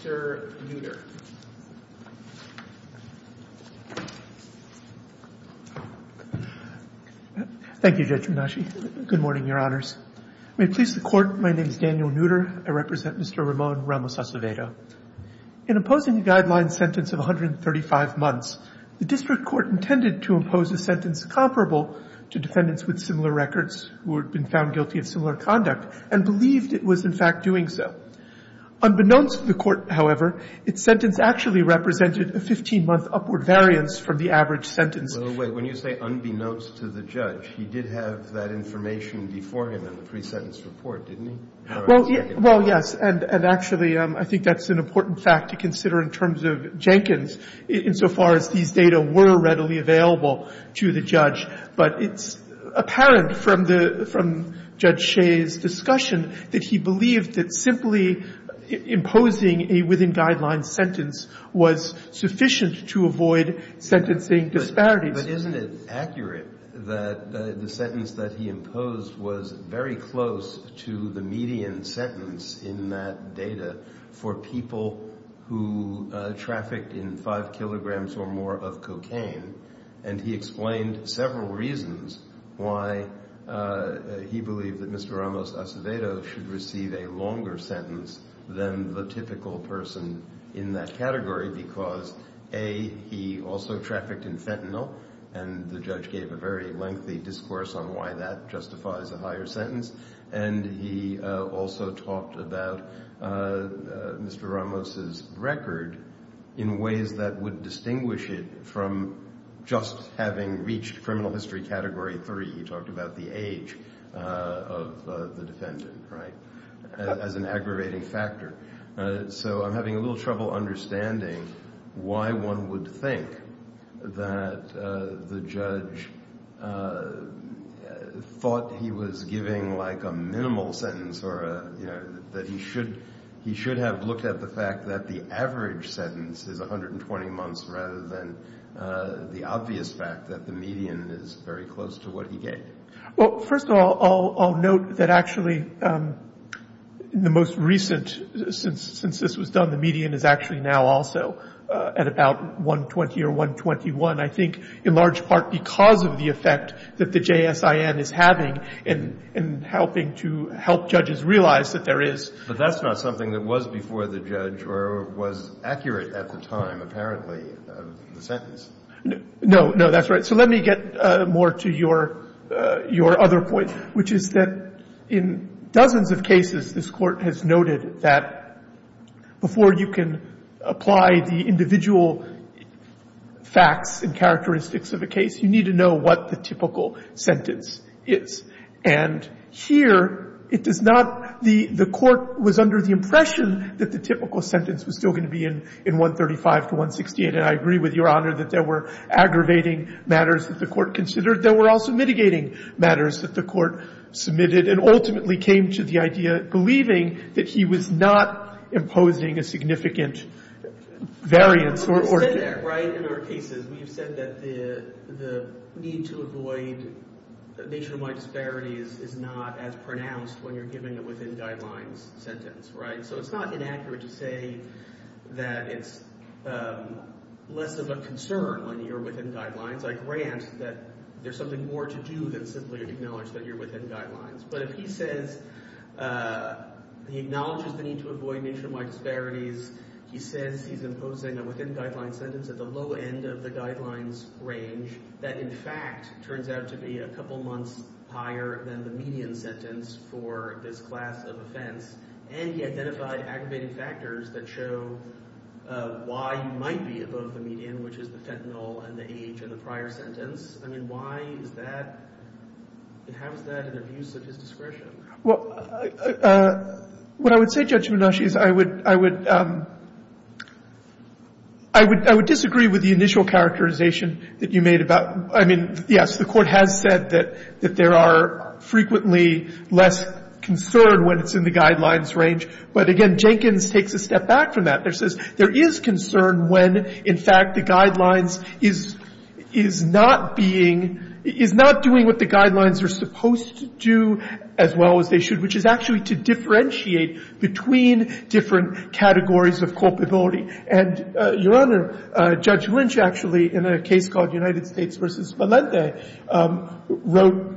Mr. Nutter. Thank you, Judge Mnuchin. Good morning, Your Honors. May it please the Court, my name is Daniel Nutter. I represent Mr. Ramon Ramos-Acevedo. In opposing the guideline sentence of 135 months, the district court intended to impose a sentence comparable to defendants with similar records who had been found guilty of similar conduct and believed it was, in fact, doing so. Unbeknownst to the Court, however, its sentence actually represented a 15-month upward variance from the average sentence. Kennedy Well, wait. When you say unbeknownst to the judge, he did have that information before him in the pre-sentence report, didn't he? Ramos-Acevedo Well, yes. And actually, I think that's an important fact to consider in terms of Jenkins, insofar as these data were readily available to the judge. But it's apparent from the – from Judge Shea's discussion that he believed that simply imposing a within-guideline sentence was sufficient to avoid sentencing disparities. Kennedy But isn't it accurate that the sentence that he imposed was very close to the median sentence in that data for people who trafficked in 5 kilograms or more of cocaine? And he explained several reasons why he believed that Mr. Ramos-Acevedo should receive a longer sentence than the typical person in that category, because, A, he also trafficked in fentanyl, and the judge gave a very lengthy discourse on why that justifies a higher sentence. And he also talked about Mr. Ramos' record in ways that would distinguish it from just having reached criminal history category 3. He talked about the age of the defendant, right, as an aggravating factor. So I'm having a little trouble understanding why one would think that the judge thought he was giving, like, a minimal sentence or, you know, that he should – he should have looked at the fact that the average sentence is 120 months rather than the obvious fact that the median is very close to what he gave. Well, first of all, I'll note that actually in the most recent – since this was done, the median is actually now also at about 120 or 121, I think in large part because of the effect that the JSIN is having in helping to help judges realize that there is – But that's not something that was before the judge or was accurate at the time, apparently, of the sentence. No, no, that's right. So let me get more to your other point, which is that in dozens of cases, this Court has noted that before you can apply the individual facts and characteristics of a case, you need to know what the typical sentence is. And here, it does not – the Court was under the impression that the typical sentence was still going to be in 135 to 168, and I agree with Your Honor that there were aggravating matters that the Court considered. There were also mitigating matters that the Court submitted and ultimately came to the idea believing that he was not imposing a significant variance or – But we've said that, right, in our cases. We've said that the need to avoid nationwide disparities is not as pronounced when you're giving a within-guidelines sentence, right? So it's not inaccurate to say that it's less of a concern when you're within guidelines. I grant that there's something more to do than simply acknowledge that you're within guidelines. But if he says – he acknowledges the need to avoid nationwide disparities. He says he's imposing a within-guidelines sentence at the low end of the guidelines range that, in fact, turns out to be a couple months higher than the median sentence for this class of offense. And he identified aggravating factors that show why you might be above the median, which is the fentanyl and the age of the prior sentence. I mean, why is that – how is that an abuse of his discretion? Well, what I would say, Judge Minoshi, is I would disagree with the initial characterization that you made about – I mean, yes, the Court has said that there are frequently less concern when it's in the guidelines range. But again, Jenkins takes a step back from that. There says there is concern when, in fact, the guidelines is not being – is not doing what the guidelines are supposed to do as well as they should, which is actually to differentiate between different categories of culpability. And, Your Honor, Judge Lynch actually, in a case called United States v. Malente, wrote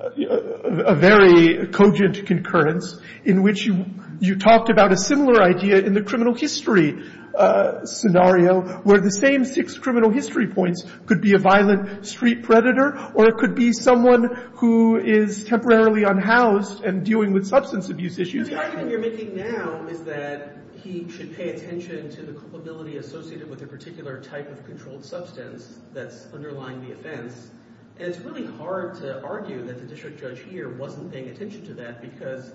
a very cogent concurrence in which you talked about a similar idea in the criminal history scenario where the same six criminal history points could be a violent street predator or it could be someone who is temporarily unhoused and dealing with substance abuse issues. The argument you're making now is that he should pay attention to the culpability associated with a particular type of controlled substance that's underlying the offense. And it's really hard to argue that the district judge here wasn't paying attention to that because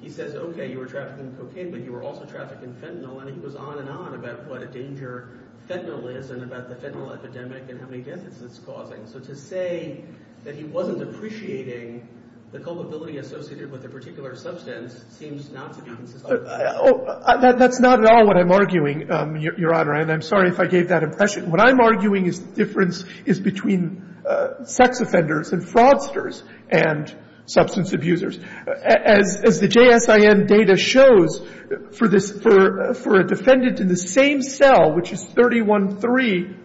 he says, okay, you were trafficking cocaine, but you were also trafficking fentanyl. And he goes on and on about what a danger fentanyl is and about the fentanyl epidemic and how many deaths it's causing. So to say that he wasn't appreciating the culpability associated with a particular substance seems not to be consistent. That's not at all what I'm arguing, Your Honor. And I'm sorry if I gave that impression. What I'm arguing is the difference is between sex offenders and fraudsters and substance abusers. As the JSIN data shows, for this — for a defendant in the same cell, which is 313,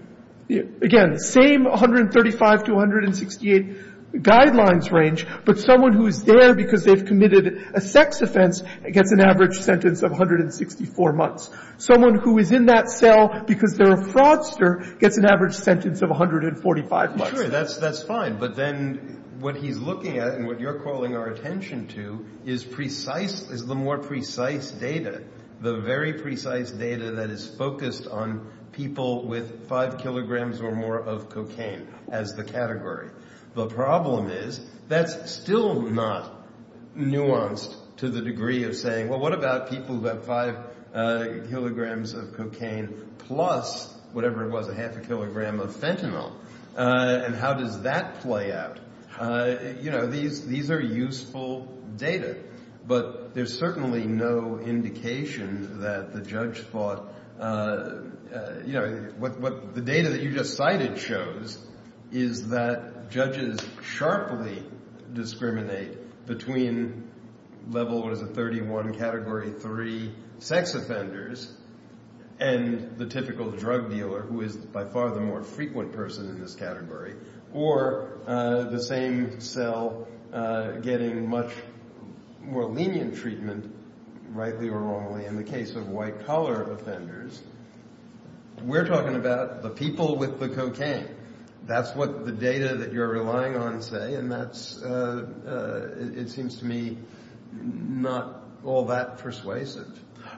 again, same 135 to 168 guidelines range, but someone who is there because they've committed a sex offense gets an average sentence of 164 months. Someone who is in that cell because they're a fraudster gets an average sentence of 145 months. Sure, that's fine. But then what he's looking at and what you're calling our attention to is precise — is the more precise data, the very precise data that is focused on people with 5 kilograms or more of cocaine as the category. The problem is that's still not nuanced to the degree of saying, well, what about people who have 5 kilograms of cocaine plus whatever it was, a half a kilogram of fentanyl, and how does that play out? You know, these are useful data. But there's certainly no indication that the judge thought — you know, what the data that you just cited shows is that judges sharply discriminate between level, what is it, 31 category 3 sex offenders and the typical drug dealer, who is by far the more frequent person in this category, or the same cell getting much more lenient treatment, rightly or wrongly, in the case of white-collar offenders. We're talking about the people with the cocaine. That's what the data that you're relying on say, and that's — it seems to me not all that persuasive.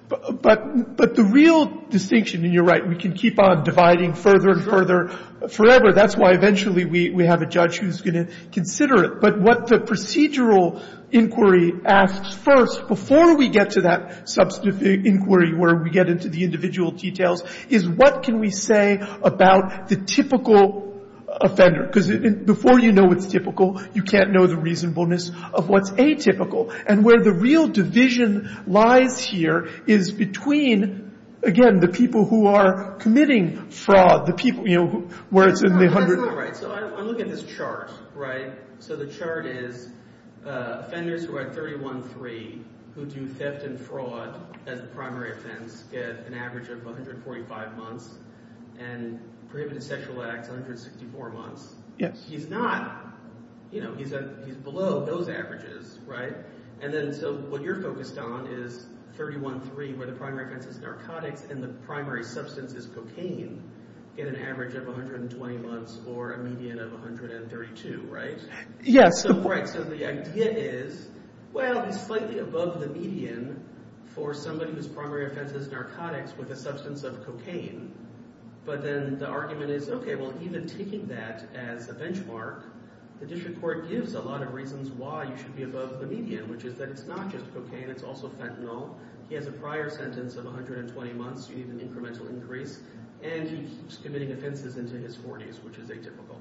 But the real distinction — and you're right, we can keep on dividing further and further forever. That's why eventually we have a judge who's going to consider it. But what the procedural inquiry asks first, before we get to that substantive inquiry where we get into the individual details, is what can we say about the typical offender? Because before you know what's typical, you can't know the reasonableness of what's atypical. And where the real division lies here is between, again, the people who are committing fraud, the people, you know, where it's in the — So I'm looking at this chart, right? So the chart is offenders who are at 31-3 who do theft and fraud as the primary offense, get an average of 145 months, and prohibited sexual acts, 164 months. He's not — you know, he's below those averages, right? And then so what you're focused on is 31-3, where the primary offense is narcotics and the primary substance is cocaine, get an average of 120 months or a median of 132, right? Yes. Right, so the idea is, well, he's slightly above the median for somebody whose primary offense is narcotics with a substance of cocaine. But then the argument is, okay, well, even taking that as a benchmark, the district court gives a lot of reasons why you should be above the median, which is that it's not just cocaine, it's also fentanyl. He has a prior sentence of 120 months. You need an incremental increase. And he keeps committing offenses into his 40s, which is atypical.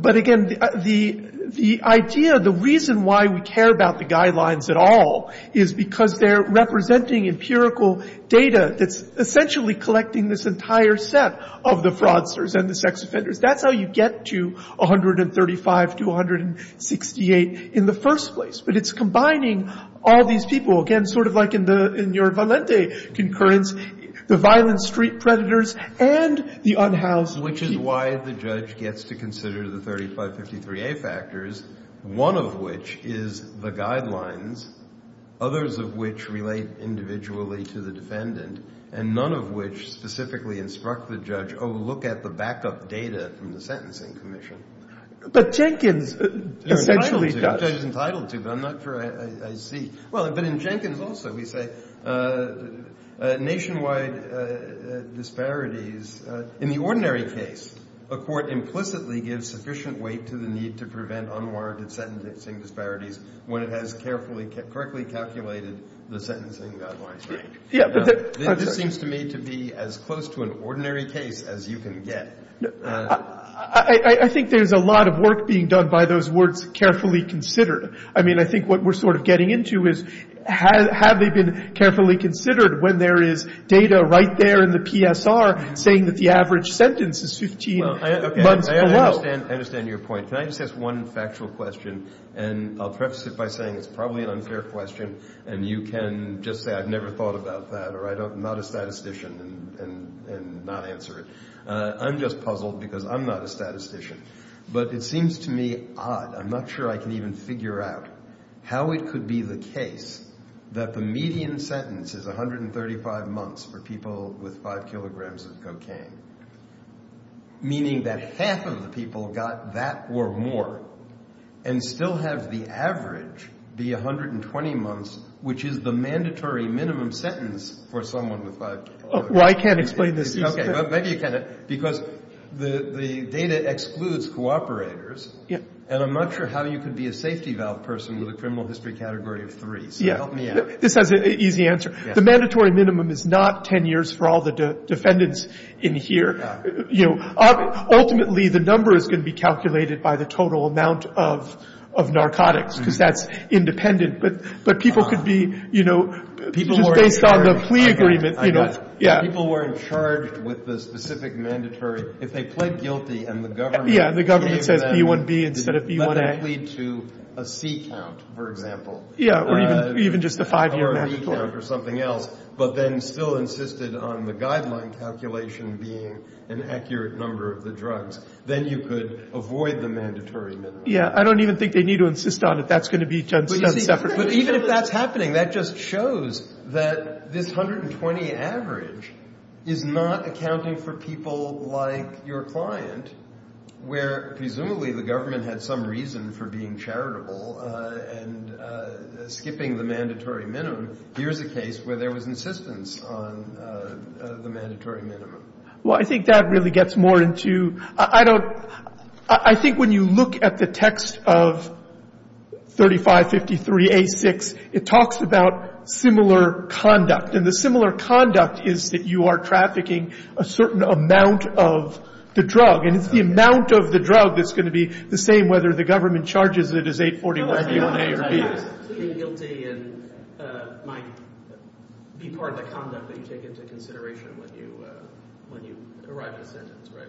But again, the idea — the reason why we care about the guidelines at all is because they're representing empirical data that's essentially collecting this entire set of the fraudsters and the sex offenders. That's how you get to 135 to 168 in the first place. But it's combining all these people, again, sort of like in your Valente concurrence, the violent street predators and the unhoused people. Which is why the judge gets to consider the 3553A factors, one of which is the guidelines, others of which relate individually to the defendant, and none of which specifically instruct the judge, oh, look at the backup data from the Sentencing Commission. But Jenkins essentially does. Which the judge is entitled to, but I'm not sure I see. Well, but in Jenkins also, we say nationwide disparities — in the ordinary case, a court implicitly gives sufficient weight to the need to prevent unwarranted sentencing disparities when it has carefully, correctly calculated the sentencing guidelines, right? Yeah, but — This seems to me to be as close to an ordinary case as you can get. I think there's a lot of work being done by those words, carefully considered. I mean, I think what we're sort of getting into is, have they been carefully considered when there is data right there in the PSR saying that the average sentence is 15 months below? I understand your point. Can I just ask one factual question? And I'll preface it by saying it's probably an unfair question, and you can just say I've never thought about that, or I'm not a statistician, and not answer it. I'm just puzzled because I'm not a statistician. But it seems to me odd — I'm not sure I can even figure out — how it could be the case that the median sentence is 135 months for people with 5 kilograms of cocaine, meaning that half of the people got that or more, and still have the average be 120 months, which is the mandatory minimum sentence for someone with 5 kilograms. Well, I can't explain this easily. Okay, well, maybe you can. Because the data excludes cooperators, and I'm not sure how you could be a safety valve person with a criminal history category of 3. So help me out. This has an easy answer. The mandatory minimum is not 10 years for all the defendants in here. Ultimately, the number is going to be calculated by the total amount of narcotics, because that's independent. But people could be — just based on the plea agreement. People were in charge with the specific mandatory. If they pled guilty and the government — Yeah, and the government says B1B instead of B1A. That would lead to a C count, for example. Yeah, or even just a 5-year mandatory. Or a V count or something else, but then still insisted on the guideline calculation being an accurate number of the drugs. Then you could avoid the mandatory minimum. Yeah, I don't even think they need to insist on it. That's going to be done separately. But even if that's happening, that just shows that this 120 average is not accounting for people like your client, where presumably the government had some reason for being charitable and skipping the mandatory minimum. Here's a case where there was insistence on the mandatory minimum. Well, I think that really gets more into — I don't — I think when you look at the text of 3553A6, it talks about similar conduct. And the similar conduct is that you are trafficking a certain amount of the drug. And it's the amount of the drug that's going to be the same whether the government charges it as 841A or B. Plea guilty might be part of the conduct that you take into consideration when you arrive at a sentence, right?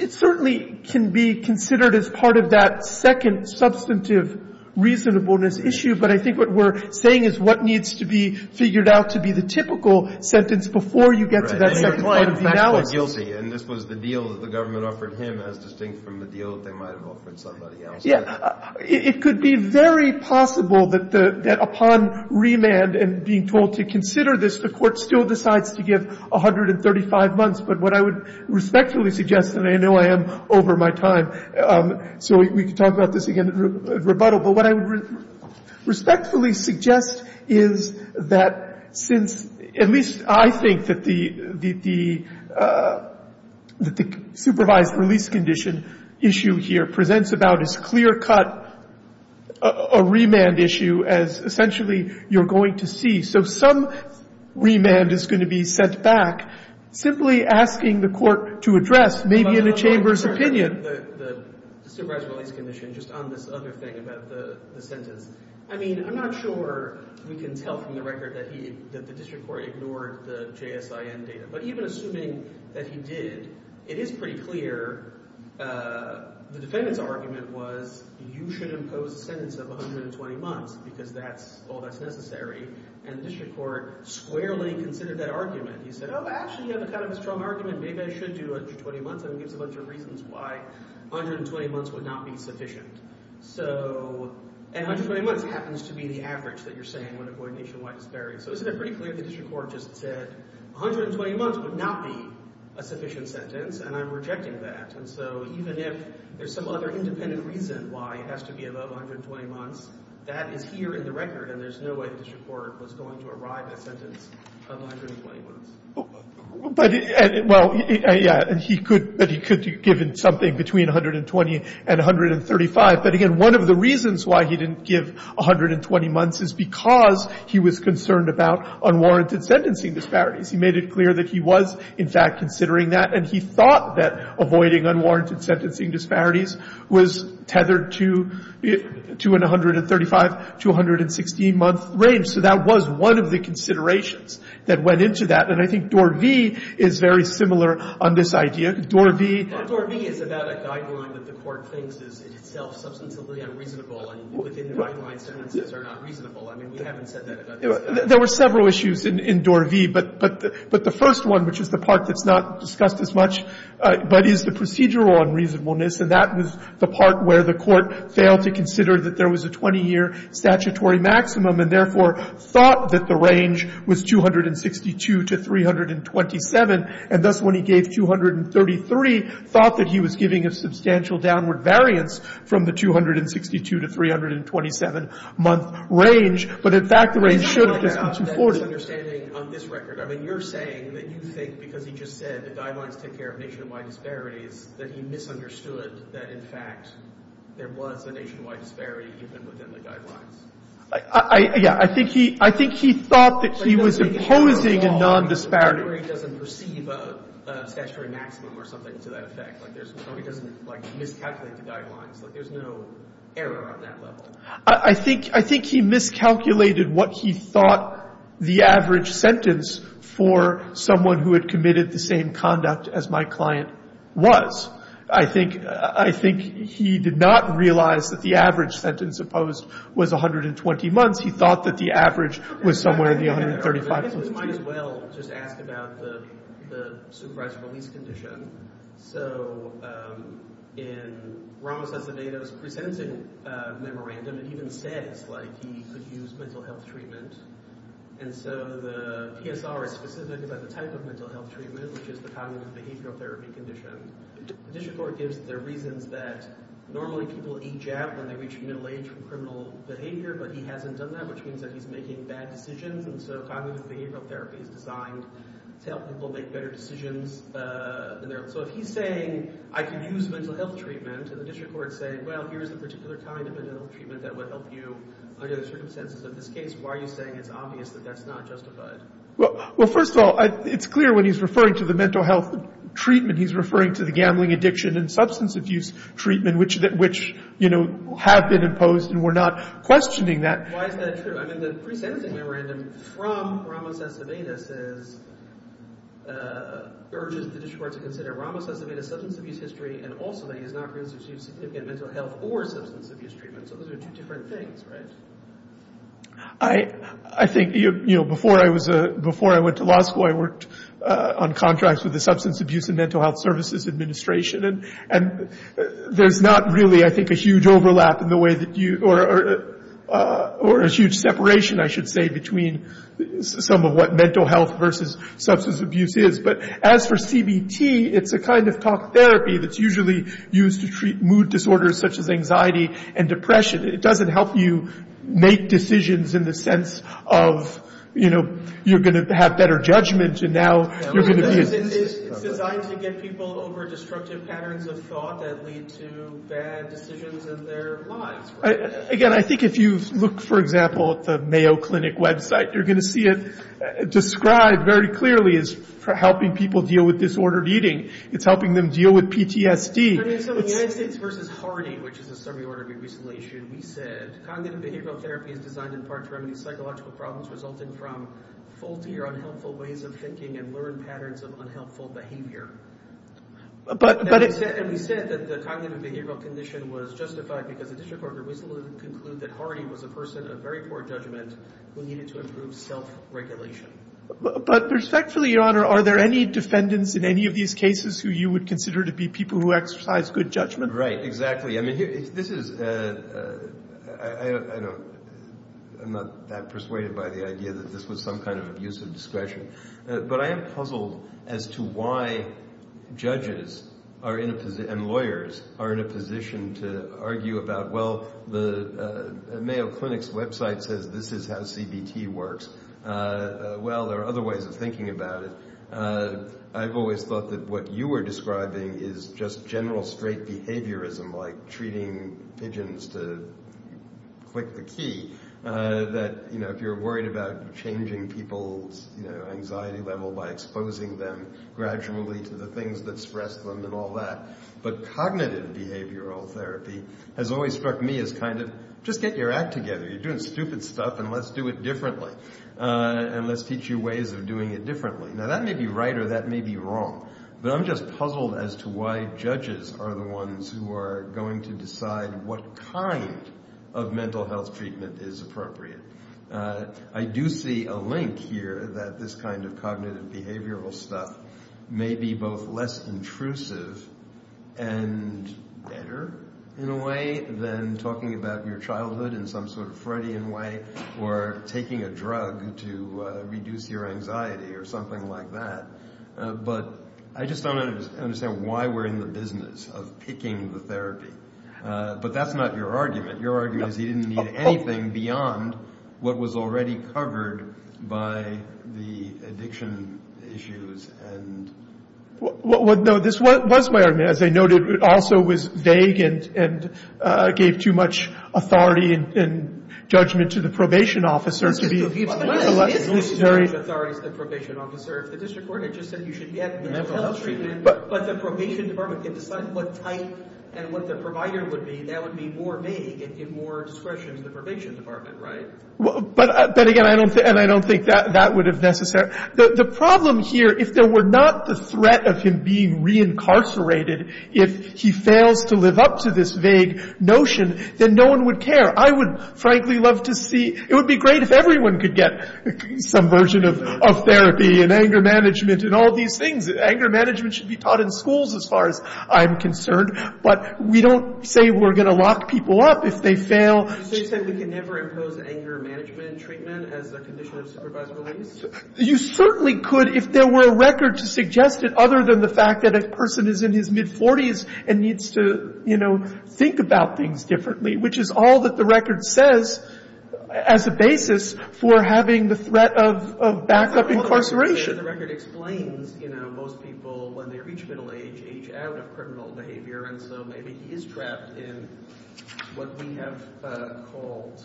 It certainly can be considered as part of that second substantive reasonableness issue. But I think what we're saying is what needs to be figured out to be the typical sentence before you get to that second part of the analysis. And this was the deal that the government offered him as distinct from the deal that they might have offered somebody else. Yeah. It could be very possible that upon remand and being told to consider this, the Court still decides to give 135 months. But what I would respectfully suggest, and I know I am over my time, so we could talk about this again at rebuttal. But what I would respectfully suggest is that since — at least I think that the supervised release condition issue here presents about as clear-cut a remand issue as essentially you're going to see. So some remand is going to be set back simply asking the Court to address, maybe in a chamber's opinion — But I'm not sure about the supervised release condition, just on this other thing about the sentence. I mean, I'm not sure we can tell from the record that he — that the district court ignored the JSIN data. But even assuming that he did, it is pretty clear — the defendant's argument was you should impose a sentence of 120 months because that's — all that's necessary. And the district court squarely considered that argument. He said, oh, actually, you have a kind of a strong argument. Maybe I should do 120 months. And he gives a bunch of reasons why 120 months would not be sufficient. So — and 120 months happens to be the average that you're saying when a void nationwide is buried. So isn't it pretty clear the district court just said 120 months would not be a sufficient sentence? And I'm rejecting that. And so even if there's some other independent reason why it has to be above 120 months, that is here in the record. And there's no way the district court was going to arrive at a sentence of 120 months. But — well, yeah. And he could — but he could have given something between 120 and 135. But again, one of the reasons why he didn't give 120 months is because he was concerned about unwarranted sentencing disparities. He made it clear that he was, in fact, considering that. And he thought that avoiding unwarranted sentencing disparities was tethered to an 135- to 116-month range. So that was one of the considerations that went into that. And I think DOR v. is very similar on this idea. DOR v. — But DOR v. is about a guideline that the court thinks is itself substantively unreasonable. And within the guideline, sentences are not reasonable. I mean, we haven't said that about this guy. There were several issues in DOR v. But the first one, which is the part that's not discussed as much, but is the procedural unreasonableness. And that was the part where the court failed to consider that there was a 20-year statutory maximum and, therefore, thought that the range was 262 to 327. And thus, when he gave 233, thought that he was giving a substantial downward variance from the 262- to 327-month range. But, in fact, the range should have just been 240. — On this record, I mean, you're saying that you think, because he just said the guidelines take care of nationwide disparities, that he misunderstood that, in fact, there was a nationwide disparity even within the guidelines. — Yeah, I think he thought that he was imposing a nondisparity— — —where he doesn't perceive a statutory maximum or something to that effect. Like, he doesn't, like, miscalculate the guidelines. Like, there's no error on that level. I think he miscalculated what he thought the average sentence for someone who had committed the same conduct as my client was. I think he did not realize that the average sentence opposed was 120 months. He thought that the average was somewhere in the 135— — We might as well just ask about the supervised release condition. — So, in— Ramos-Acevedo's presenting memorandum, it even says, like, he could use mental health treatment. And so the PSR is specific about the type of mental health treatment, which is the cognitive behavioral therapy condition. The district court gives their reasons that normally people age out when they reach middle age from criminal behavior, but he hasn't done that, which means that he's making bad decisions. And so cognitive behavioral therapy is designed to help people make better decisions than their— So if he's saying, I can use mental health treatment, and the district court's saying, well, here's the particular kind of mental health treatment that would help you under the circumstances of this case, why are you saying it's obvious that that's not justified? — Well, first of all, it's clear when he's referring to the mental health treatment, he's referring to the gambling addiction and substance abuse treatment, which, you know, have been imposed, and we're not questioning that. — Why is that true? — I mean, the pre-sentencing memorandum from Ramos S. Avedis is— urges the district court to consider Ramos S. Avedis' substance abuse history and also that he has not received significant mental health or substance abuse treatment. So those are two different things, right? — I think, you know, before I went to law school, I worked on contracts with the Substance Abuse and Mental Health Services Administration, and there's not really, I think, a huge overlap in the way that you— or a huge separation, I should say, between some of what mental health versus substance abuse is. But as for CBT, it's a kind of talk therapy that's usually used to treat mood disorders such as anxiety and depression. It doesn't help you make decisions in the sense of, you know, you're going to have better judgment and now you're going to be— — It's designed to get people over destructive patterns of thought that lead to bad decisions in their lives, right? — Again, I think if you look, for example, at the Mayo Clinic website, you're going to see it described very clearly as helping people deal with disordered eating. It's helping them deal with PTSD. — I mean, so the United States v. Harney, which is a suburban organization, we said cognitive behavioral therapy is designed in part to remedy psychological problems resulting from faulty or unhelpful ways of thinking and learned patterns of unhelpful behavior. — And we said that the cognitive behavioral condition was justified because the district court recently concluded that Harney was a person of very poor judgment who needed to improve self-regulation. — But respectfully, Your Honor, are there any defendants in any of these cases who you would consider to be people who exercise good judgment? — Right, exactly. I mean, this is— I don't—I'm not that persuaded by the idea that this was some kind of abuse of discretion. But I am puzzled as to why judges and lawyers are in a position to argue about, well, the Mayo Clinic's website says this is how CBT works. Well, there are other ways of thinking about it. I've always thought that what you were describing is just general straight behaviorism, like treating pigeons to click the key, that, you know, if you're worried about changing people's anxiety level by exposing them gradually to the things that stress them and all that. But cognitive behavioral therapy has always struck me as kind of, just get your act together. You're doing stupid stuff, and let's do it differently. And let's teach you ways of doing it differently. Now, that may be right or that may be wrong, but I'm just puzzled as to why judges are the ones who are going to decide what kind of mental health treatment is appropriate. I do see a link here that this kind of cognitive behavioral stuff may be both less intrusive and better, in a way, than talking about your childhood in some sort of Freudian way or taking a drug to reduce your anxiety or something like that. But I just don't understand why we're in the business of picking the therapy. But that's not your argument. Your argument is you didn't need anything beyond what was already covered by the addiction issues and... Well, no, this was my argument. As I noted, it also was vague and gave too much authority and judgment to the probation officer to be... Well, it's necessary to have authority as the probation officer. If the district court had just said you should get the mental health treatment, but the probation department can decide what type and what the provider would be, that would be more vague and give more discretion to the probation department, right? But again, I don't think that would have necessarily... The problem here, if there were not the threat of him being reincarcerated, if he fails to live up to this vague notion, then no one would care. I would frankly love to see... It would be great if everyone could get some version of therapy and anger management and all these things. Anger management should be taught in schools, as far as I'm concerned. But we don't say we're going to lock people up if they fail. So you're saying we can never impose anger management treatment as a condition of supervised release? You certainly could, if there were a record to suggest it, other than the fact that a person is in his mid-40s and needs to, you know, think about things differently, which is all that the record says as a basis for having the threat of backup incarceration. The record explains, you know, most people, when they reach middle age, age out of criminal behavior. And so maybe he is trapped in what we have called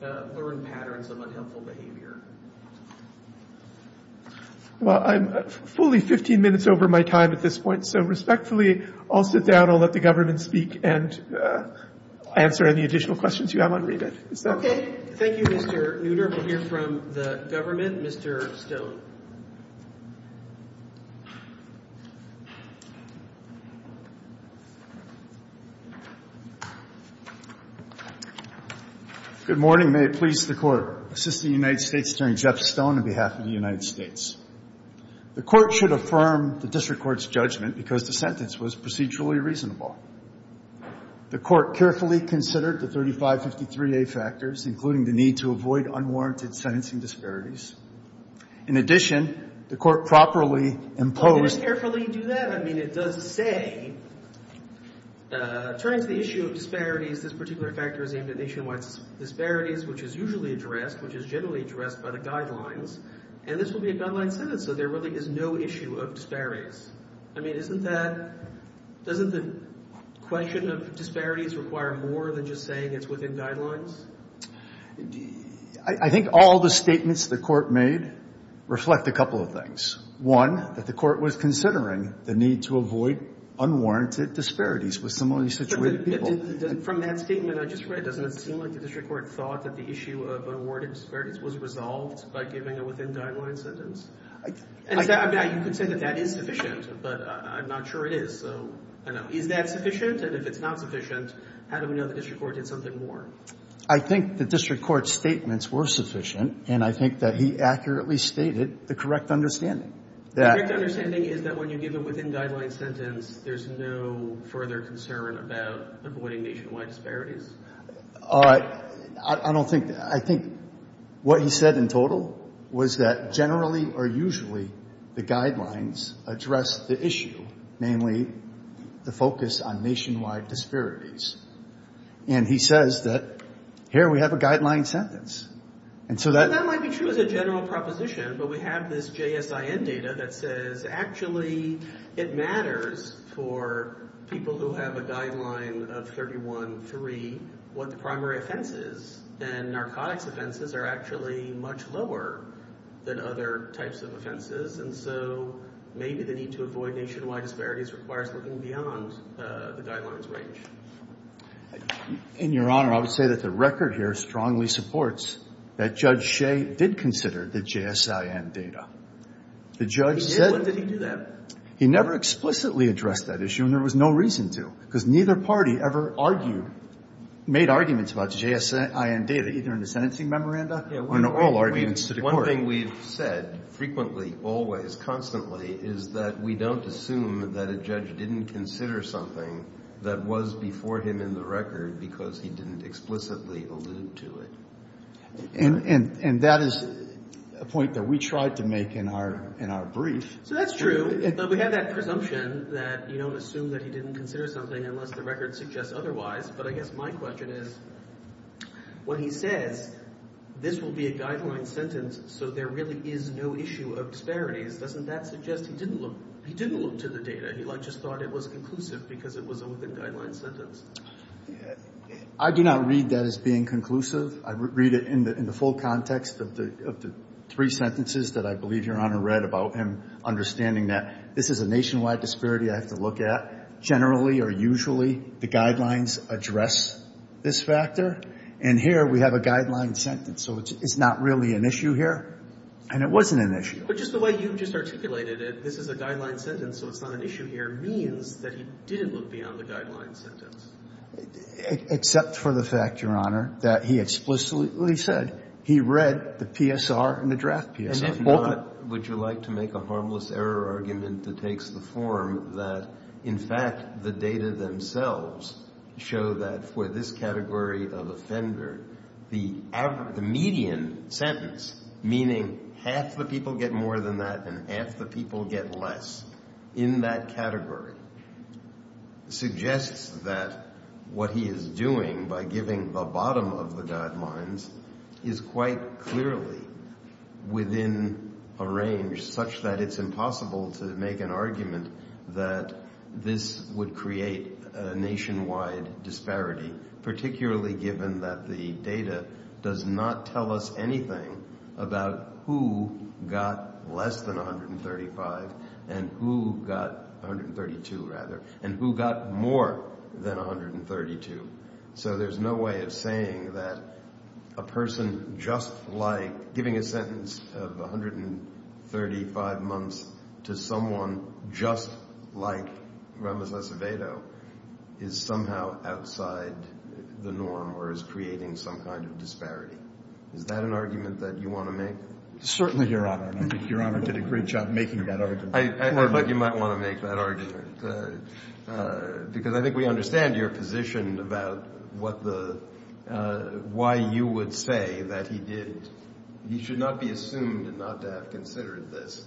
learned patterns of unhelpful behavior. Well, I'm fully 15 minutes over my time at this point. So respectfully, I'll sit down. I'll let the government speak and answer any additional questions you have on Rebid. Is that okay? Thank you, Mr. Neutter. We'll hear from the government. Mr. Stone. Good morning. May it please the Court. Assistant United States Attorney Jeff Stone on behalf of the United States. The Court should affirm the District Court's judgment because the sentence was procedurally reasonable. The Court carefully considered the 3553A factors, including the need to avoid unwarranted sentencing disparities, in addition, the Court properly imposed... Well, did it carefully do that? I mean, it does say, turning to the issue of disparities, this particular factor is aimed at nationwide disparities, which is usually addressed, which is generally addressed by the guidelines. And this will be a guideline sentence. So there really is no issue of disparities. I mean, isn't that, doesn't the question of disparities require more than just saying it's within guidelines? I think all the statements the Court made reflect a couple of things. One, that the Court was considering the need to avoid unwarranted disparities with similarly situated people. From that statement I just read, doesn't it seem like the District Court thought that the issue of unwarranted disparities was resolved by giving a within guidelines sentence? You could say that that is sufficient, but I'm not sure it is. So, I don't know. Is that sufficient? And if it's not sufficient, how do we know the District Court did something more? I think the District Court's statements were sufficient, and I think that he accurately stated the correct understanding. The correct understanding is that when you give a within guidelines sentence, there's no further concern about avoiding nationwide disparities? I don't think that. I think what he said in total was that generally or usually the guidelines address the issue, namely the focus on nationwide disparities. And he says that here we have a guideline sentence. And so that might be true as a general proposition, but we have this JSIN data that says actually it matters for people who have a guideline of 31-3 what the primary offense is. And narcotics offenses are actually much lower than other types of offenses. And so maybe the need to avoid nationwide disparities requires looking beyond the guidelines range. In Your Honor, I would say that the record here strongly supports that Judge Shea did consider the JSIN data. He did? When did he do that? He never explicitly addressed that issue, and there was no reason to. Because neither party ever argued, made arguments about the JSIN data, either in the sentencing memoranda or in all arguments to the Court. One thing we've said frequently, always, constantly, is that we don't assume that a judge didn't consider something that was before him in the record because he didn't explicitly allude to it. And that is a point that we tried to make in our brief. So that's true. But we have that presumption that you don't assume that he didn't consider something unless the record suggests otherwise. But I guess my question is, when he says this will be a guideline sentence so there really is no issue of disparities, doesn't that suggest he didn't look to the data? He just thought it was conclusive because it was a within-guideline sentence. I do not read that as being conclusive. I read it in the full context of the three sentences that I believe Your Honor read about him understanding that this is a nationwide disparity I have to look at. Generally, or usually, the guidelines address this factor. And here we have a guideline sentence. So it's not really an issue here. And it wasn't an issue. But just the way you've just articulated it, this is a guideline sentence, so it's not an issue here, means that he didn't look beyond the guideline sentence. Except for the fact, Your Honor, that he explicitly said he read the PSR and the draft PSR. And if not, would you like to make a harmless error argument that takes the form that, in fact, the data themselves show that for this category of offender, the median sentence, meaning half the people get more than that, and half the people get less in that category, suggests that what he is doing by giving the bottom of the guidelines is quite clearly within a range such that it's impossible to make an argument that this would create a nationwide disparity, particularly given that the data does not tell us anything about who got less than 135, and who got 132, rather, and who got more than 132. So there's no way of saying that a person just like giving a sentence of 135 months to someone just like Ramos Acevedo is somehow outside the norm, or is creating some kind of disparity. Is that an argument that you want to make? Certainly, Your Honor, and I think Your Honor did a great job making that argument. I feel like you might want to make that argument, because I think we understand your position about why you would say that he did. He should not be assumed not to have considered this.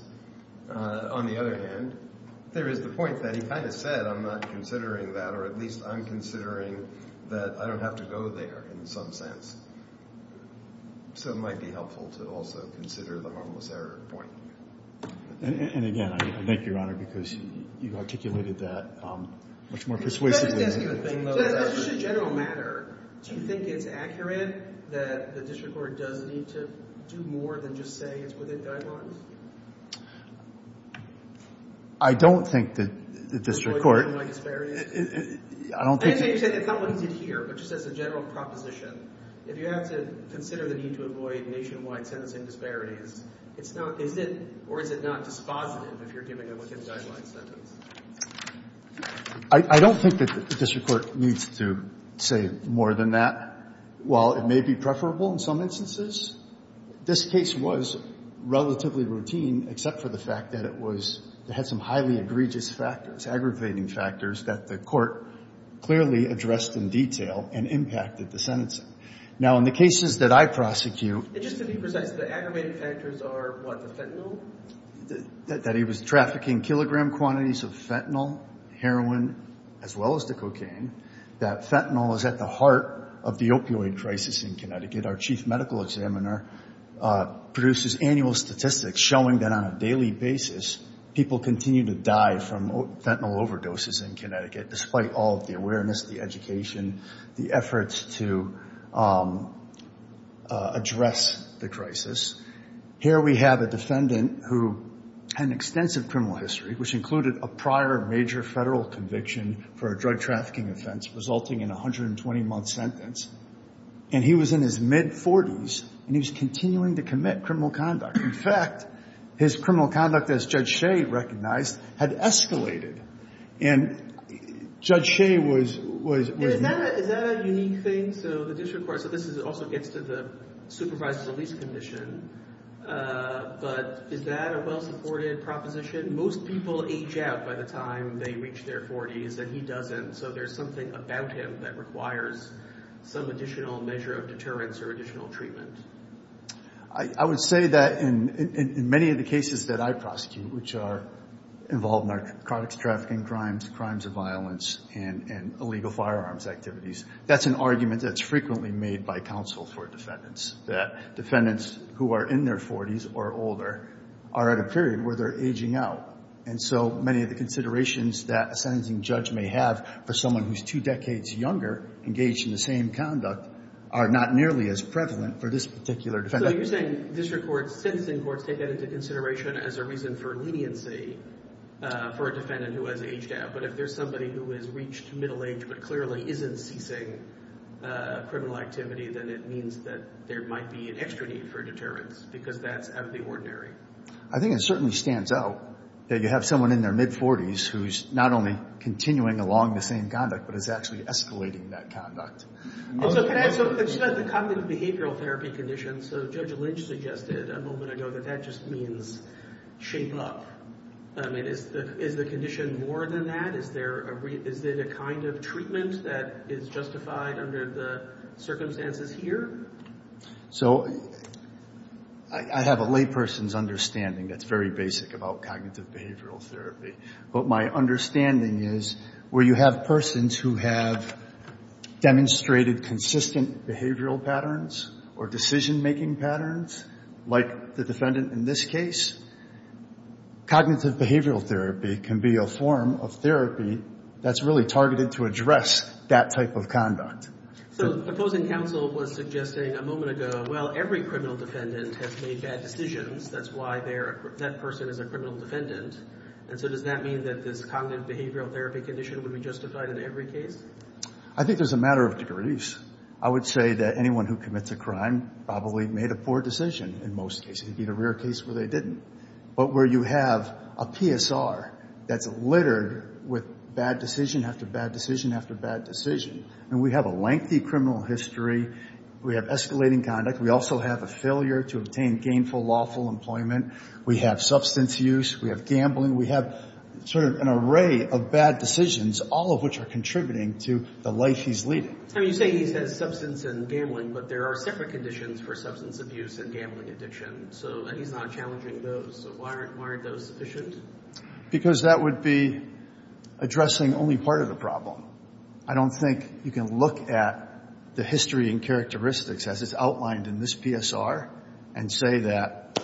On the other hand, there is the point that he kind of said, I'm not considering that, or at least I'm considering that I don't have to go there, in some sense. So it might be helpful to also consider the harmless error point. And again, I thank Your Honor, because you articulated that much more persuasively. Can I just ask you a thing, though? Just as a general matter, do you think it's accurate that the district court does need to do more than just say it's within guidelines? I don't think that the district court— Avoid nationwide disparities? I don't think— I understand you're saying it's not what he did here, but just as a general proposition. If you have to consider the need to avoid nationwide sentencing disparities, it's not—is it—or is it not dispositive if you're giving a within-guidelines sentence? I don't think that the district court needs to say more than that. While it may be preferable in some instances, this case was relatively routine, except for the fact that it was—it had some highly egregious factors, aggravating factors that the court clearly addressed in detail and impacted the sentencing. Now, in the cases that I prosecute— Just to be precise, the aggravating factors are what, the fentanyl? That he was trafficking kilogram quantities of fentanyl, heroin, as well as the cocaine. That fentanyl is at the heart of the opioid crisis in Connecticut. Our chief medical examiner produces annual statistics showing that on a daily basis, people continue to die from fentanyl overdoses in Connecticut, despite all of the awareness, the education, the efforts to address the crisis. Here we have a defendant who had an extensive criminal history, which included a prior major federal conviction for a drug trafficking offense, resulting in a 120-month sentence. And he was in his mid-40s, and he was continuing to commit criminal conduct. In fact, his criminal conduct, as Judge Shea recognized, had escalated. And Judge Shea was— Is that a unique thing? So the district court—so this also gets to the supervised police commission. But is that a well-supported proposition? Most people age out by the time they reach their 40s, and he doesn't. So there's something about him that requires some additional measure of deterrence or additional treatment. I would say that in many of the cases that I prosecute, which are involved in narcotics trafficking crimes, crimes of violence, and illegal firearms activities, that's an argument that's frequently made by counsel for defendants, that defendants who are in their 40s or older are at a period where they're aging out. And so many of the considerations that a sentencing judge may have for someone who's two decades younger engaged in the same conduct are not nearly as prevalent for this particular defendant. So you're saying district courts, sentencing courts, take that into consideration as a reason for leniency for a defendant who has aged out. But if there's somebody who has reached middle age but clearly isn't ceasing criminal activity, then it means that there might be an extra need for deterrence because that's out of the ordinary. I think it certainly stands out that you have someone in their mid-40s who's not only continuing along the same conduct but is actually escalating that conduct. So can I ask a question about the cognitive behavioral therapy conditions? So Judge Lynch suggested a moment ago that that just means shape up. I mean, is the condition more than that? Is it a kind of treatment that is justified under the circumstances here? So I have a layperson's understanding that's very basic about cognitive behavioral therapy. But my understanding is where you have persons who have demonstrated consistent behavioral patterns or decision-making patterns, like the defendant in this case, cognitive behavioral therapy can be a form of therapy that's really targeted to address that type of conduct. So the opposing counsel was suggesting a moment ago, well, every criminal defendant has made bad decisions. That's why that person is a criminal defendant. And so does that mean that this cognitive behavioral therapy condition would be justified in every case? I think there's a matter of degrees. I would say that anyone who commits a crime probably made a poor decision in most cases, even rare cases where they didn't. But where you have a PSR that's littered with bad decision after bad decision after bad decision. And we have a lengthy criminal history. We have escalating conduct. We also have a failure to obtain gainful lawful employment. We have substance use. We have gambling. We have sort of an array of bad decisions, all of which are contributing to the life he's leading. I mean, you say he has substance and gambling, but there are separate conditions for substance abuse and gambling addiction. So he's not challenging those. So why aren't those sufficient? Because that would be addressing only part of the problem. I don't think you can look at the history and characteristics, as it's outlined in this PSR, and say that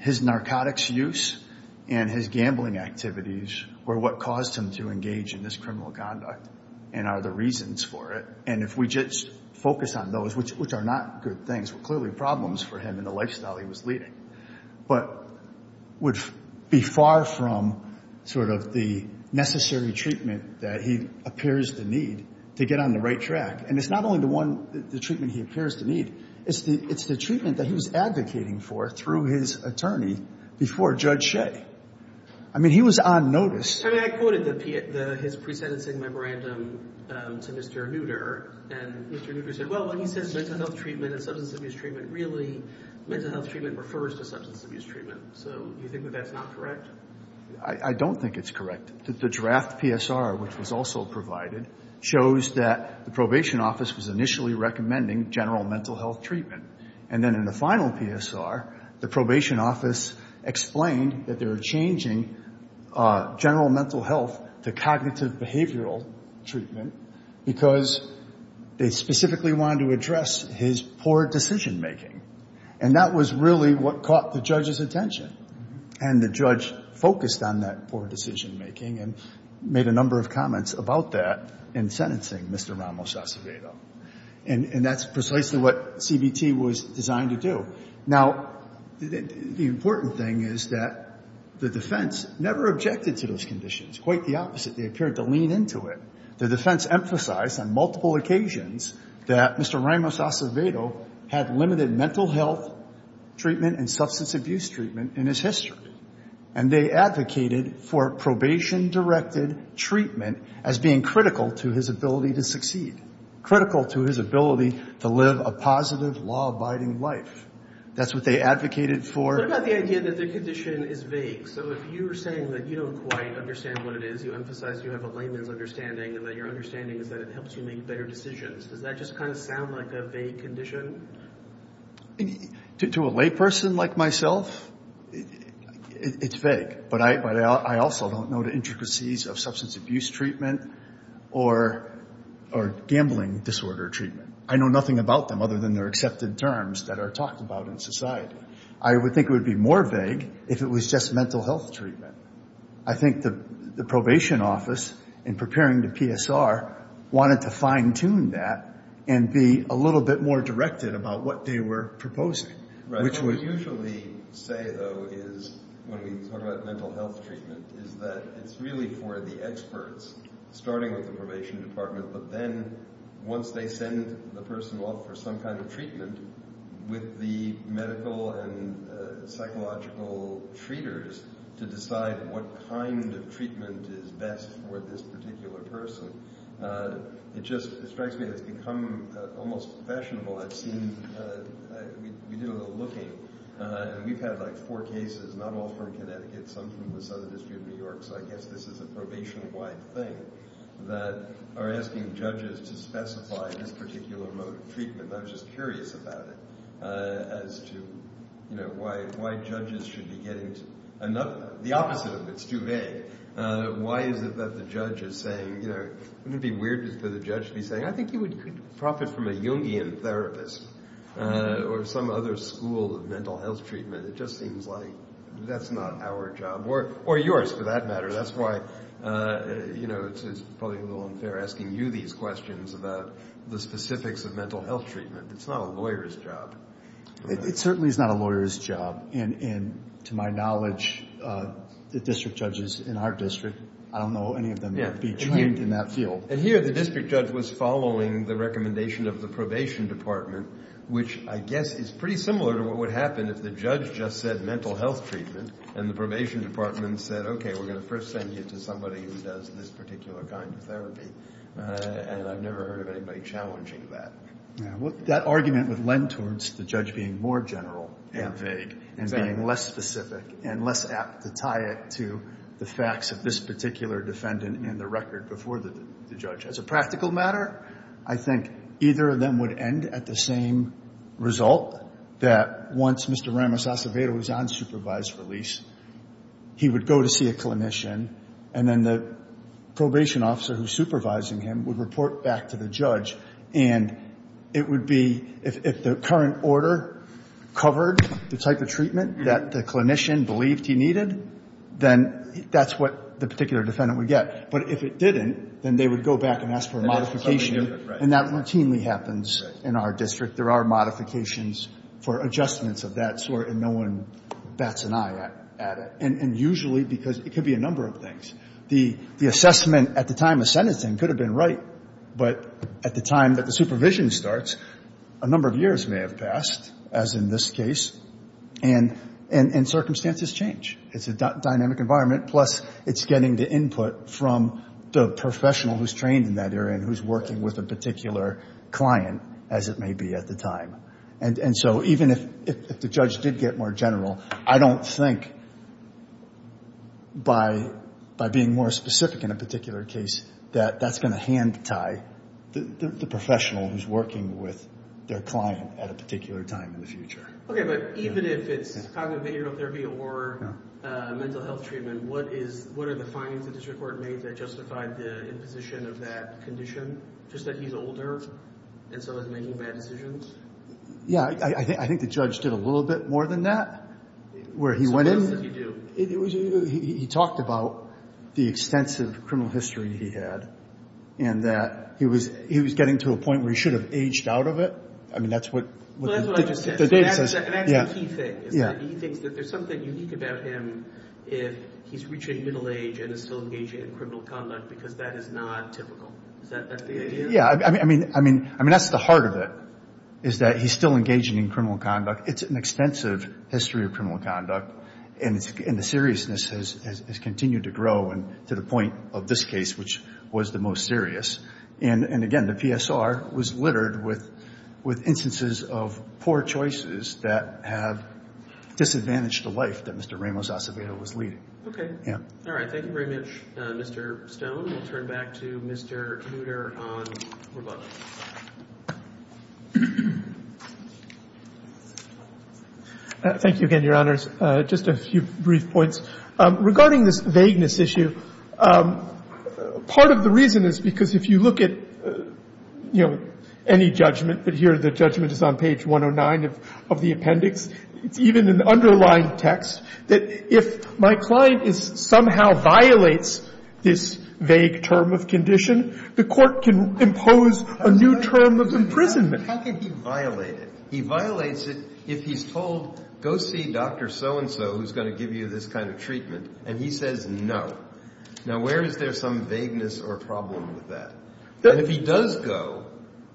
his narcotics use and his gambling activities were what caused him to engage in this criminal conduct and are the reasons for it. And if we just focus on those, which are not good things, were clearly problems for him in the lifestyle he was leading, but would be far from sort of the necessary treatment that he appears to need to get on the right track. And it's not only the treatment he appears to need. It's the treatment that he was advocating for through his attorney before Judge Shea. I mean, he was on notice. I mean, I quoted his pre-sentencing memorandum to Mr. Nutter, and Mr. Nutter said, well, when he says mental health treatment and substance abuse treatment, really mental health treatment refers to substance abuse treatment. So you think that that's not correct? I don't think it's correct. The draft PSR, which was also provided, shows that the probation office was initially recommending general mental health treatment. And then in the final PSR, the probation office explained that they were changing general mental health to cognitive behavioral treatment because they specifically wanted to address his poor decision-making. And that was really what caught the judge's attention. And the judge focused on that poor decision-making and made a number of comments about that in sentencing Mr. Ramos-Acevedo. And that's precisely what CBT was designed to do. Now, the important thing is that the defense never objected to those conditions. Quite the opposite. They appeared to lean into it. The defense emphasized on multiple occasions that Mr. Ramos-Acevedo had limited mental health treatment and substance abuse treatment in his history. And they advocated for probation-directed treatment as being critical to his ability to succeed. Critical to his ability to live a positive, law-abiding life. That's what they advocated for. What about the idea that the condition is vague? So if you were saying that you don't quite understand what it is, you emphasize you have a layman's understanding and that your understanding is that it helps you make better decisions, does that just kind of sound like a vague condition? To a layperson like myself, it's vague. But I also don't know the intricacies of substance abuse treatment or gambling disorder treatment. I know nothing about them other than their accepted terms that are talked about in society. I would think it would be more vague if it was just mental health treatment. I think the probation office, in preparing the PSR, wanted to fine-tune that and be a little bit more directed about what they were proposing. What we usually say, though, when we talk about mental health treatment, is that it's really for the experts, starting with the probation department, but then once they send the person off for some kind of treatment, with the medical and psychological treaters to decide what kind of treatment is best for this particular person. It just strikes me that it's become almost fashionable. We did a little looking. We've had four cases, not all from Connecticut, some from the Southern District of New York, so I guess this is a probation-wide thing, that are asking judges to specify this particular mode of treatment. I was just curious about it, as to why judges should be getting... The opposite of it's too vague. Why is it that the judge is saying... Wouldn't it be weird for the judge to be saying, I think you could profit from a Jungian therapist or some other school of mental health treatment. It just seems like that's not our job, or yours for that matter. That's why it's probably a little unfair asking you these questions about the specifics of mental health treatment. It's not a lawyer's job. It certainly is not a lawyer's job. And to my knowledge, the district judges in our district, I don't know any of them that would be trained in that field. And here the district judge was following the recommendation of the probation department, which I guess is pretty similar to what would happen if the judge just said mental health treatment, and the probation department said, okay, we're going to first send you to somebody who does this particular kind of therapy. And I've never heard of anybody challenging that. That argument would lend towards the judge being more general and vague, and being less specific and less apt to tie it to the facts of this particular defendant and the record before the judge. As a practical matter, I think either of them would end at the same result, that once Mr. Ramos Acevedo was on supervised release, he would go to see a clinician, and then the probation officer who's supervising him would report back to the judge. And it would be if the current order covered the type of treatment that the clinician believed he needed, then that's what the particular defendant would get. But if it didn't, then they would go back and ask for a modification. And that routinely happens in our district. There are modifications for adjustments of that sort, and no one bats an eye at it. And usually because it could be a number of things. The assessment at the time of sentencing could have been right, but at the time that the supervision starts, a number of years may have passed, as in this case, and circumstances change. It's a dynamic environment, plus it's getting the input from the professional who's trained in that area and who's working with a particular client, as it may be at the time. And so even if the judge did get more general, I don't think by being more specific in a particular case that that's going to hand-tie the professional who's working with their client at a particular time in the future. Okay, but even if it's cognitive behavioral therapy or mental health treatment, what are the findings the district court made that justified the imposition of that condition, just that he's older and so is making bad decisions? Yeah, I think the judge did a little bit more than that. So what else did he do? He talked about the extensive criminal history he had and that he was getting to a point where he should have aged out of it. Well, that's what I just said, and that's the key thing. He thinks that there's something unique about him if he's reaching middle age and is still engaging in criminal conduct because that is not typical. Is that the idea? Yeah, I mean, that's the heart of it, is that he's still engaging in criminal conduct. It's an extensive history of criminal conduct, and the seriousness has continued to grow to the point of this case, which was the most serious. And again, the PSR was littered with instances of poor choices that have disadvantaged the life that Mr. Ramos-Acevedo was leading. Okay. Yeah. All right. Thank you very much, Mr. Stone. We'll turn back to Mr. Knoedler on rebuttal. Thank you again, Your Honors. Just a few brief points. Regarding this vagueness issue, part of the reason is because if you look at, you know, any judgment, but here the judgment is on page 109 of the appendix, it's even in the underlying text that if my client is somehow violates this vague term of condition, the court can impose a new term of imprisonment. How can he violate it? He violates it if he's told, go see Dr. So-and-so, who's going to give you this kind of treatment, and he says no. Now, where is there some vagueness or problem with that? And if he does go,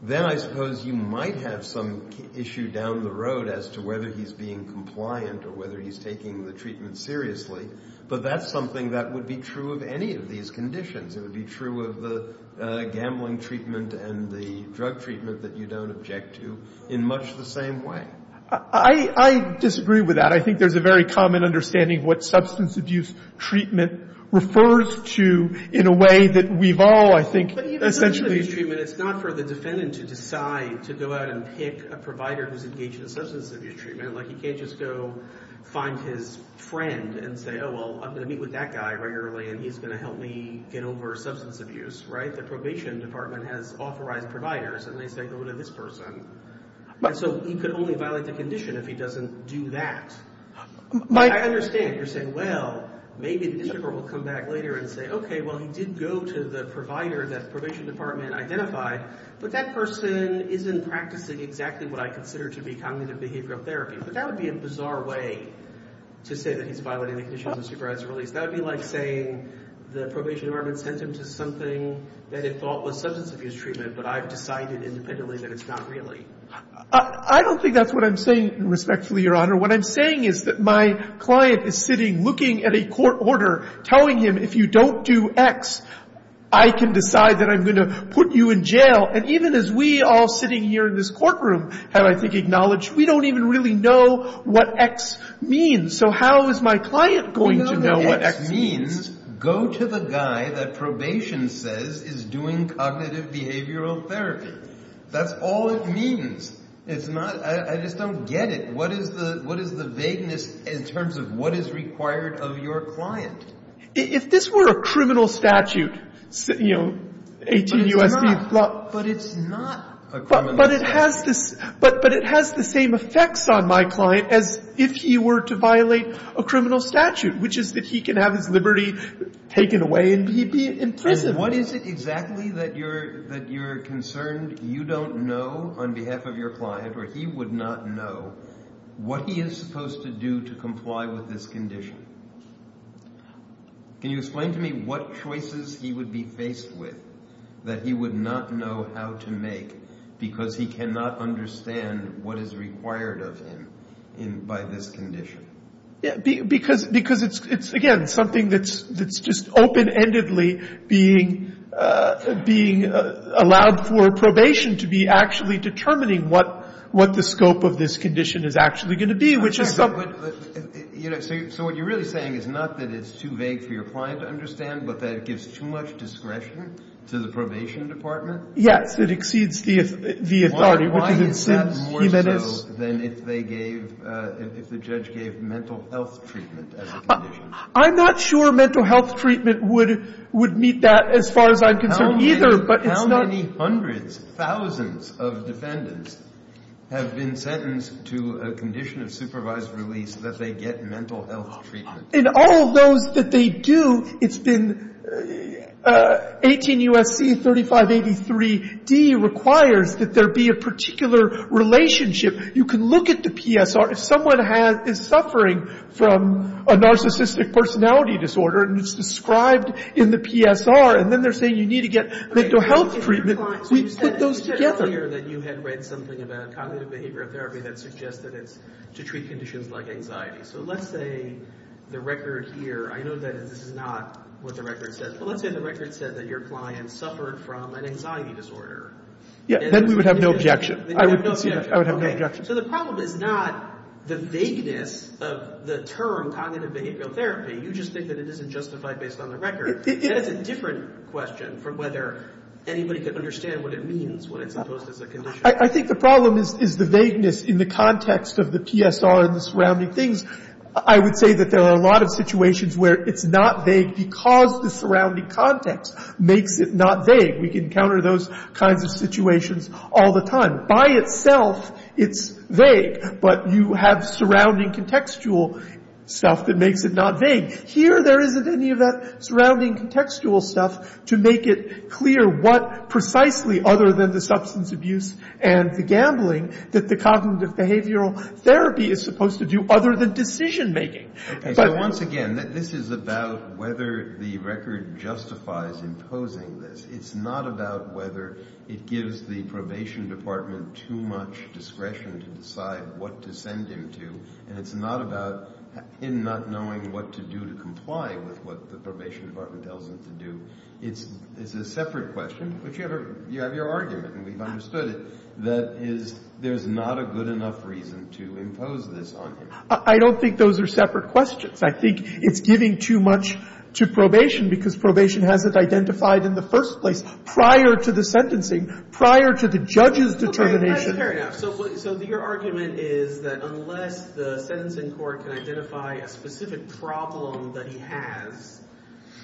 then I suppose you might have some issue down the road as to whether he's being compliant or whether he's taking the treatment seriously, but that's something that would be true of any of these conditions. It would be true of the gambling treatment and the drug treatment that you don't object to in much the same way. I disagree with that. I think there's a very common understanding of what substance abuse treatment refers to in a way that we've all, I think, essentially. But even substance abuse treatment, it's not for the defendant to decide to go out and pick a provider who's engaged in substance abuse treatment. Like, he can't just go find his friend and say, oh, well, I'm going to meet with that guy regularly, and he's going to help me get over substance abuse, right? The probation department has authorized providers, and they say go to this person. So he could only violate the condition if he doesn't do that. I understand if you're saying, well, maybe the district court will come back later and say, okay, well, he did go to the provider that the probation department identified, but that person isn't practicing exactly what I consider to be cognitive behavioral therapy. But that would be a bizarre way to say that he's violating the conditions of supervised release. That would be like saying the probation department sent him to something that it thought was substance abuse treatment, but I've decided independently that it's not really. I don't think that's what I'm saying, respectfully, Your Honor. What I'm saying is that my client is sitting looking at a court order telling him if you don't do X, I can decide that I'm going to put you in jail. And even as we all sitting here in this courtroom have, I think, acknowledged we don't even really know what X means. So how is my client going to know what X means? X means go to the guy that probation says is doing cognitive behavioral therapy. That's all it means. It's not — I just don't get it. What is the vagueness in terms of what is required of your client? If this were a criminal statute, you know, 18 U.S.C. — But it's not a criminal statute. But it has the same effects on my client as if he were to violate a criminal statute, which is that he can have his liberty taken away and he'd be in prison. And what is it exactly that you're concerned you don't know on behalf of your client or he would not know what he is supposed to do to comply with this condition? Can you explain to me what choices he would be faced with that he would not know how to make because he cannot understand what is required of him by this condition? Because it's, again, something that's just open-endedly being allowed for probation to be actually determining what the scope of this condition is actually going to be, which is — But, you know, so what you're really saying is not that it's too vague for your client to understand, but that it gives too much discretion to the probation department? Yes, it exceeds the authority. Why is that more so than if they gave — if the judge gave mental health treatment as a condition? I'm not sure mental health treatment would meet that as far as I'm concerned either, but it's not — How many hundreds, thousands of defendants have been sentenced to a condition of supervised release that they get mental health treatment? In all of those that they do, it's been — 18 U.S.C. 3583d requires that there be a particular relationship. You can look at the PSR. If someone is suffering from a narcissistic personality disorder and it's described in the PSR and then they're saying you need to get mental health treatment, we put those together. So you said earlier that you had read something about cognitive behavioral therapy that suggested it's to treat conditions like anxiety. So let's say the record here — I know that this is not what the record says, but let's say the record said that your client suffered from an anxiety disorder. Yeah, then we would have no objection. I would have no objection. So the problem is not the vagueness of the term cognitive behavioral therapy. You just think that it isn't justified based on the record. That is a different question from whether anybody could understand what it means when it's imposed as a condition. I think the problem is the vagueness in the context of the PSR and the surrounding things. I would say that there are a lot of situations where it's not vague because the surrounding context makes it not vague. We can encounter those kinds of situations all the time. By itself, it's vague, but you have surrounding contextual stuff that makes it not vague. Here there isn't any of that surrounding contextual stuff to make it clear what precisely, other than the substance abuse and the gambling, that the cognitive behavioral therapy is supposed to do other than decision-making. Okay. So once again, this is about whether the record justifies imposing this. It's not about whether it gives the probation department too much discretion to decide what to send him to. And it's not about him not knowing what to do to comply with what the probation department tells him to do. It's a separate question. But you have your argument, and we've understood it, that there's not a good enough reason to impose this on him. I don't think those are separate questions. I think it's giving too much to probation because probation hasn't identified in the first place, prior to the sentencing, prior to the judge's determination. Fair enough. So your argument is that unless the sentencing court can identify a specific problem that he has,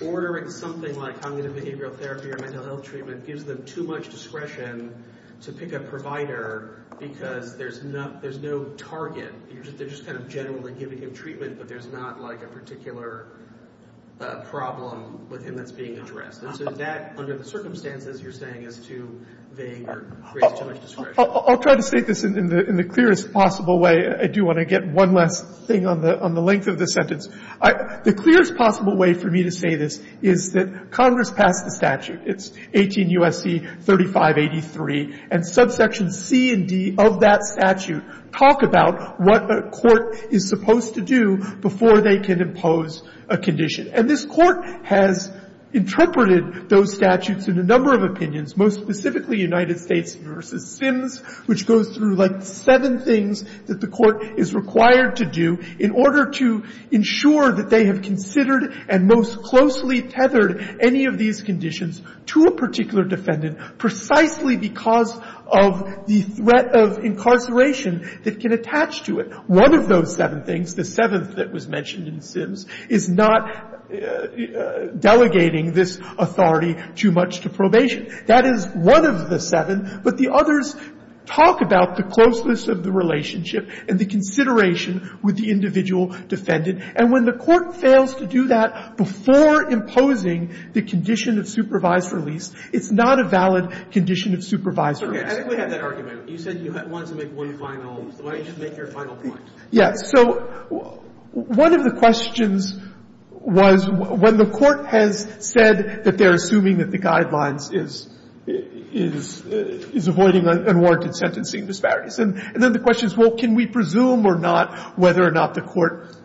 ordering something like cognitive behavioral therapy or mental health treatment gives them too much discretion to pick a provider because there's no target. They're just kind of generally giving him treatment, but there's not like a particular problem with him that's being addressed. And so that, under the circumstances, you're saying is too vague or creates too much discretion. I'll try to state this in the clearest possible way. I do want to get one last thing on the length of the sentence. The clearest possible way for me to say this is that Congress passed the statute. It's 18 U.S.C. 3583. And subsection C and D of that statute talk about what a court is supposed to do before they can impose a condition. And this Court has interpreted those statutes in a number of opinions, most specifically United States v. Sims, which goes through like seven things that the Court is required to do in order to ensure that they have considered and most closely tethered any of these conditions to a particular defendant precisely because of the threat of incarceration that can attach to it. One of those seven things, the seventh that was mentioned in Sims, is not delegating this authority too much to probation. That is one of the seven, but the others talk about the closeness of the relationship and the consideration with the individual defendant. And when the Court fails to do that before imposing the condition of supervised release, it's not a valid condition of supervised release. Okay. I think we have that argument. You said you wanted to make one final. Why don't you just make your final point? Yeah. So one of the questions was when the Court has said that they're assuming that the guidelines is avoiding unwarranted sentencing disparities. And then the question is, well, can we presume or not whether or not the Court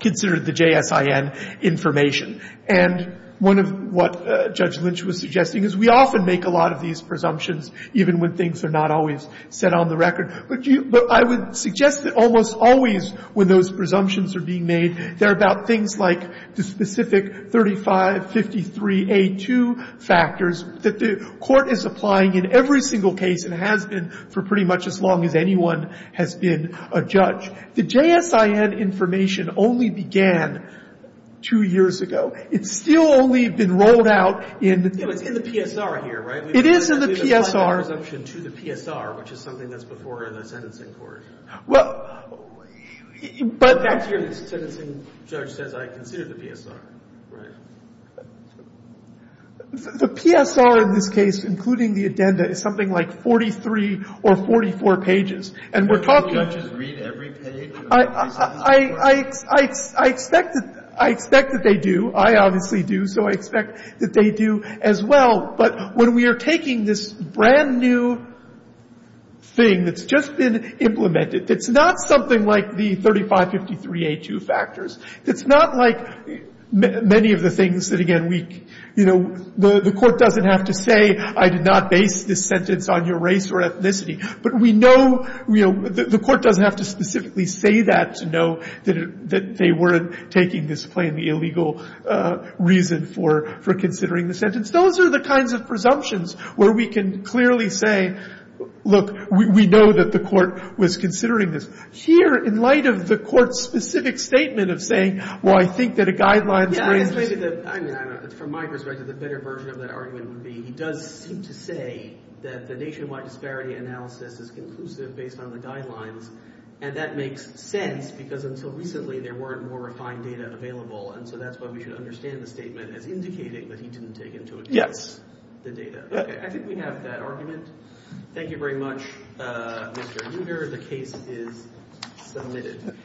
considered the JSIN information. And one of what Judge Lynch was suggesting is we often make a lot of these presumptions even when things are not always set on the record. But I would suggest that almost always when those presumptions are being made, they're about things like the specific 3553A2 factors that the Court is applying in every single case and has been for pretty much as long as anyone has been a judge. The JSIN information only began two years ago. It's still only been rolled out in the PSR here, right? It is in the PSR. We've applied that presumption to the PSR, which is something that's before the sentencing court. Well, but back to your sentencing judge says I consider the PSR, right? The PSR in this case, including the addenda, is something like 43 or 44 pages. And we're talking about just... Do judges read every page of the sentencing court? I expect that they do. I obviously do. So I expect that they do as well. But when we are taking this brand-new thing that's just been implemented, it's not something like the 3553A2 factors. It's not like many of the things that, again, we... You know, the Court doesn't have to say I did not base this sentence on your race or ethnicity. But we know... The Court doesn't have to specifically say that to know that they weren't taking this plainly illegal reason for considering the sentence. Those are the kinds of presumptions where we can clearly say, look, we know that the Court was considering this. Here, in light of the Court's specific statement of saying, well, I think that a guideline... Yeah, I just think that, from my perspective, the better version of that argument would be he does seem to say that the nationwide disparity analysis is conclusive based on the guidelines. And that makes sense because until recently, there weren't more refined data available. And so that's why we should understand the statement as indicating that he didn't take into account the data. I think we have that argument. Thank you very much, Mr. Uder. The case is submitted.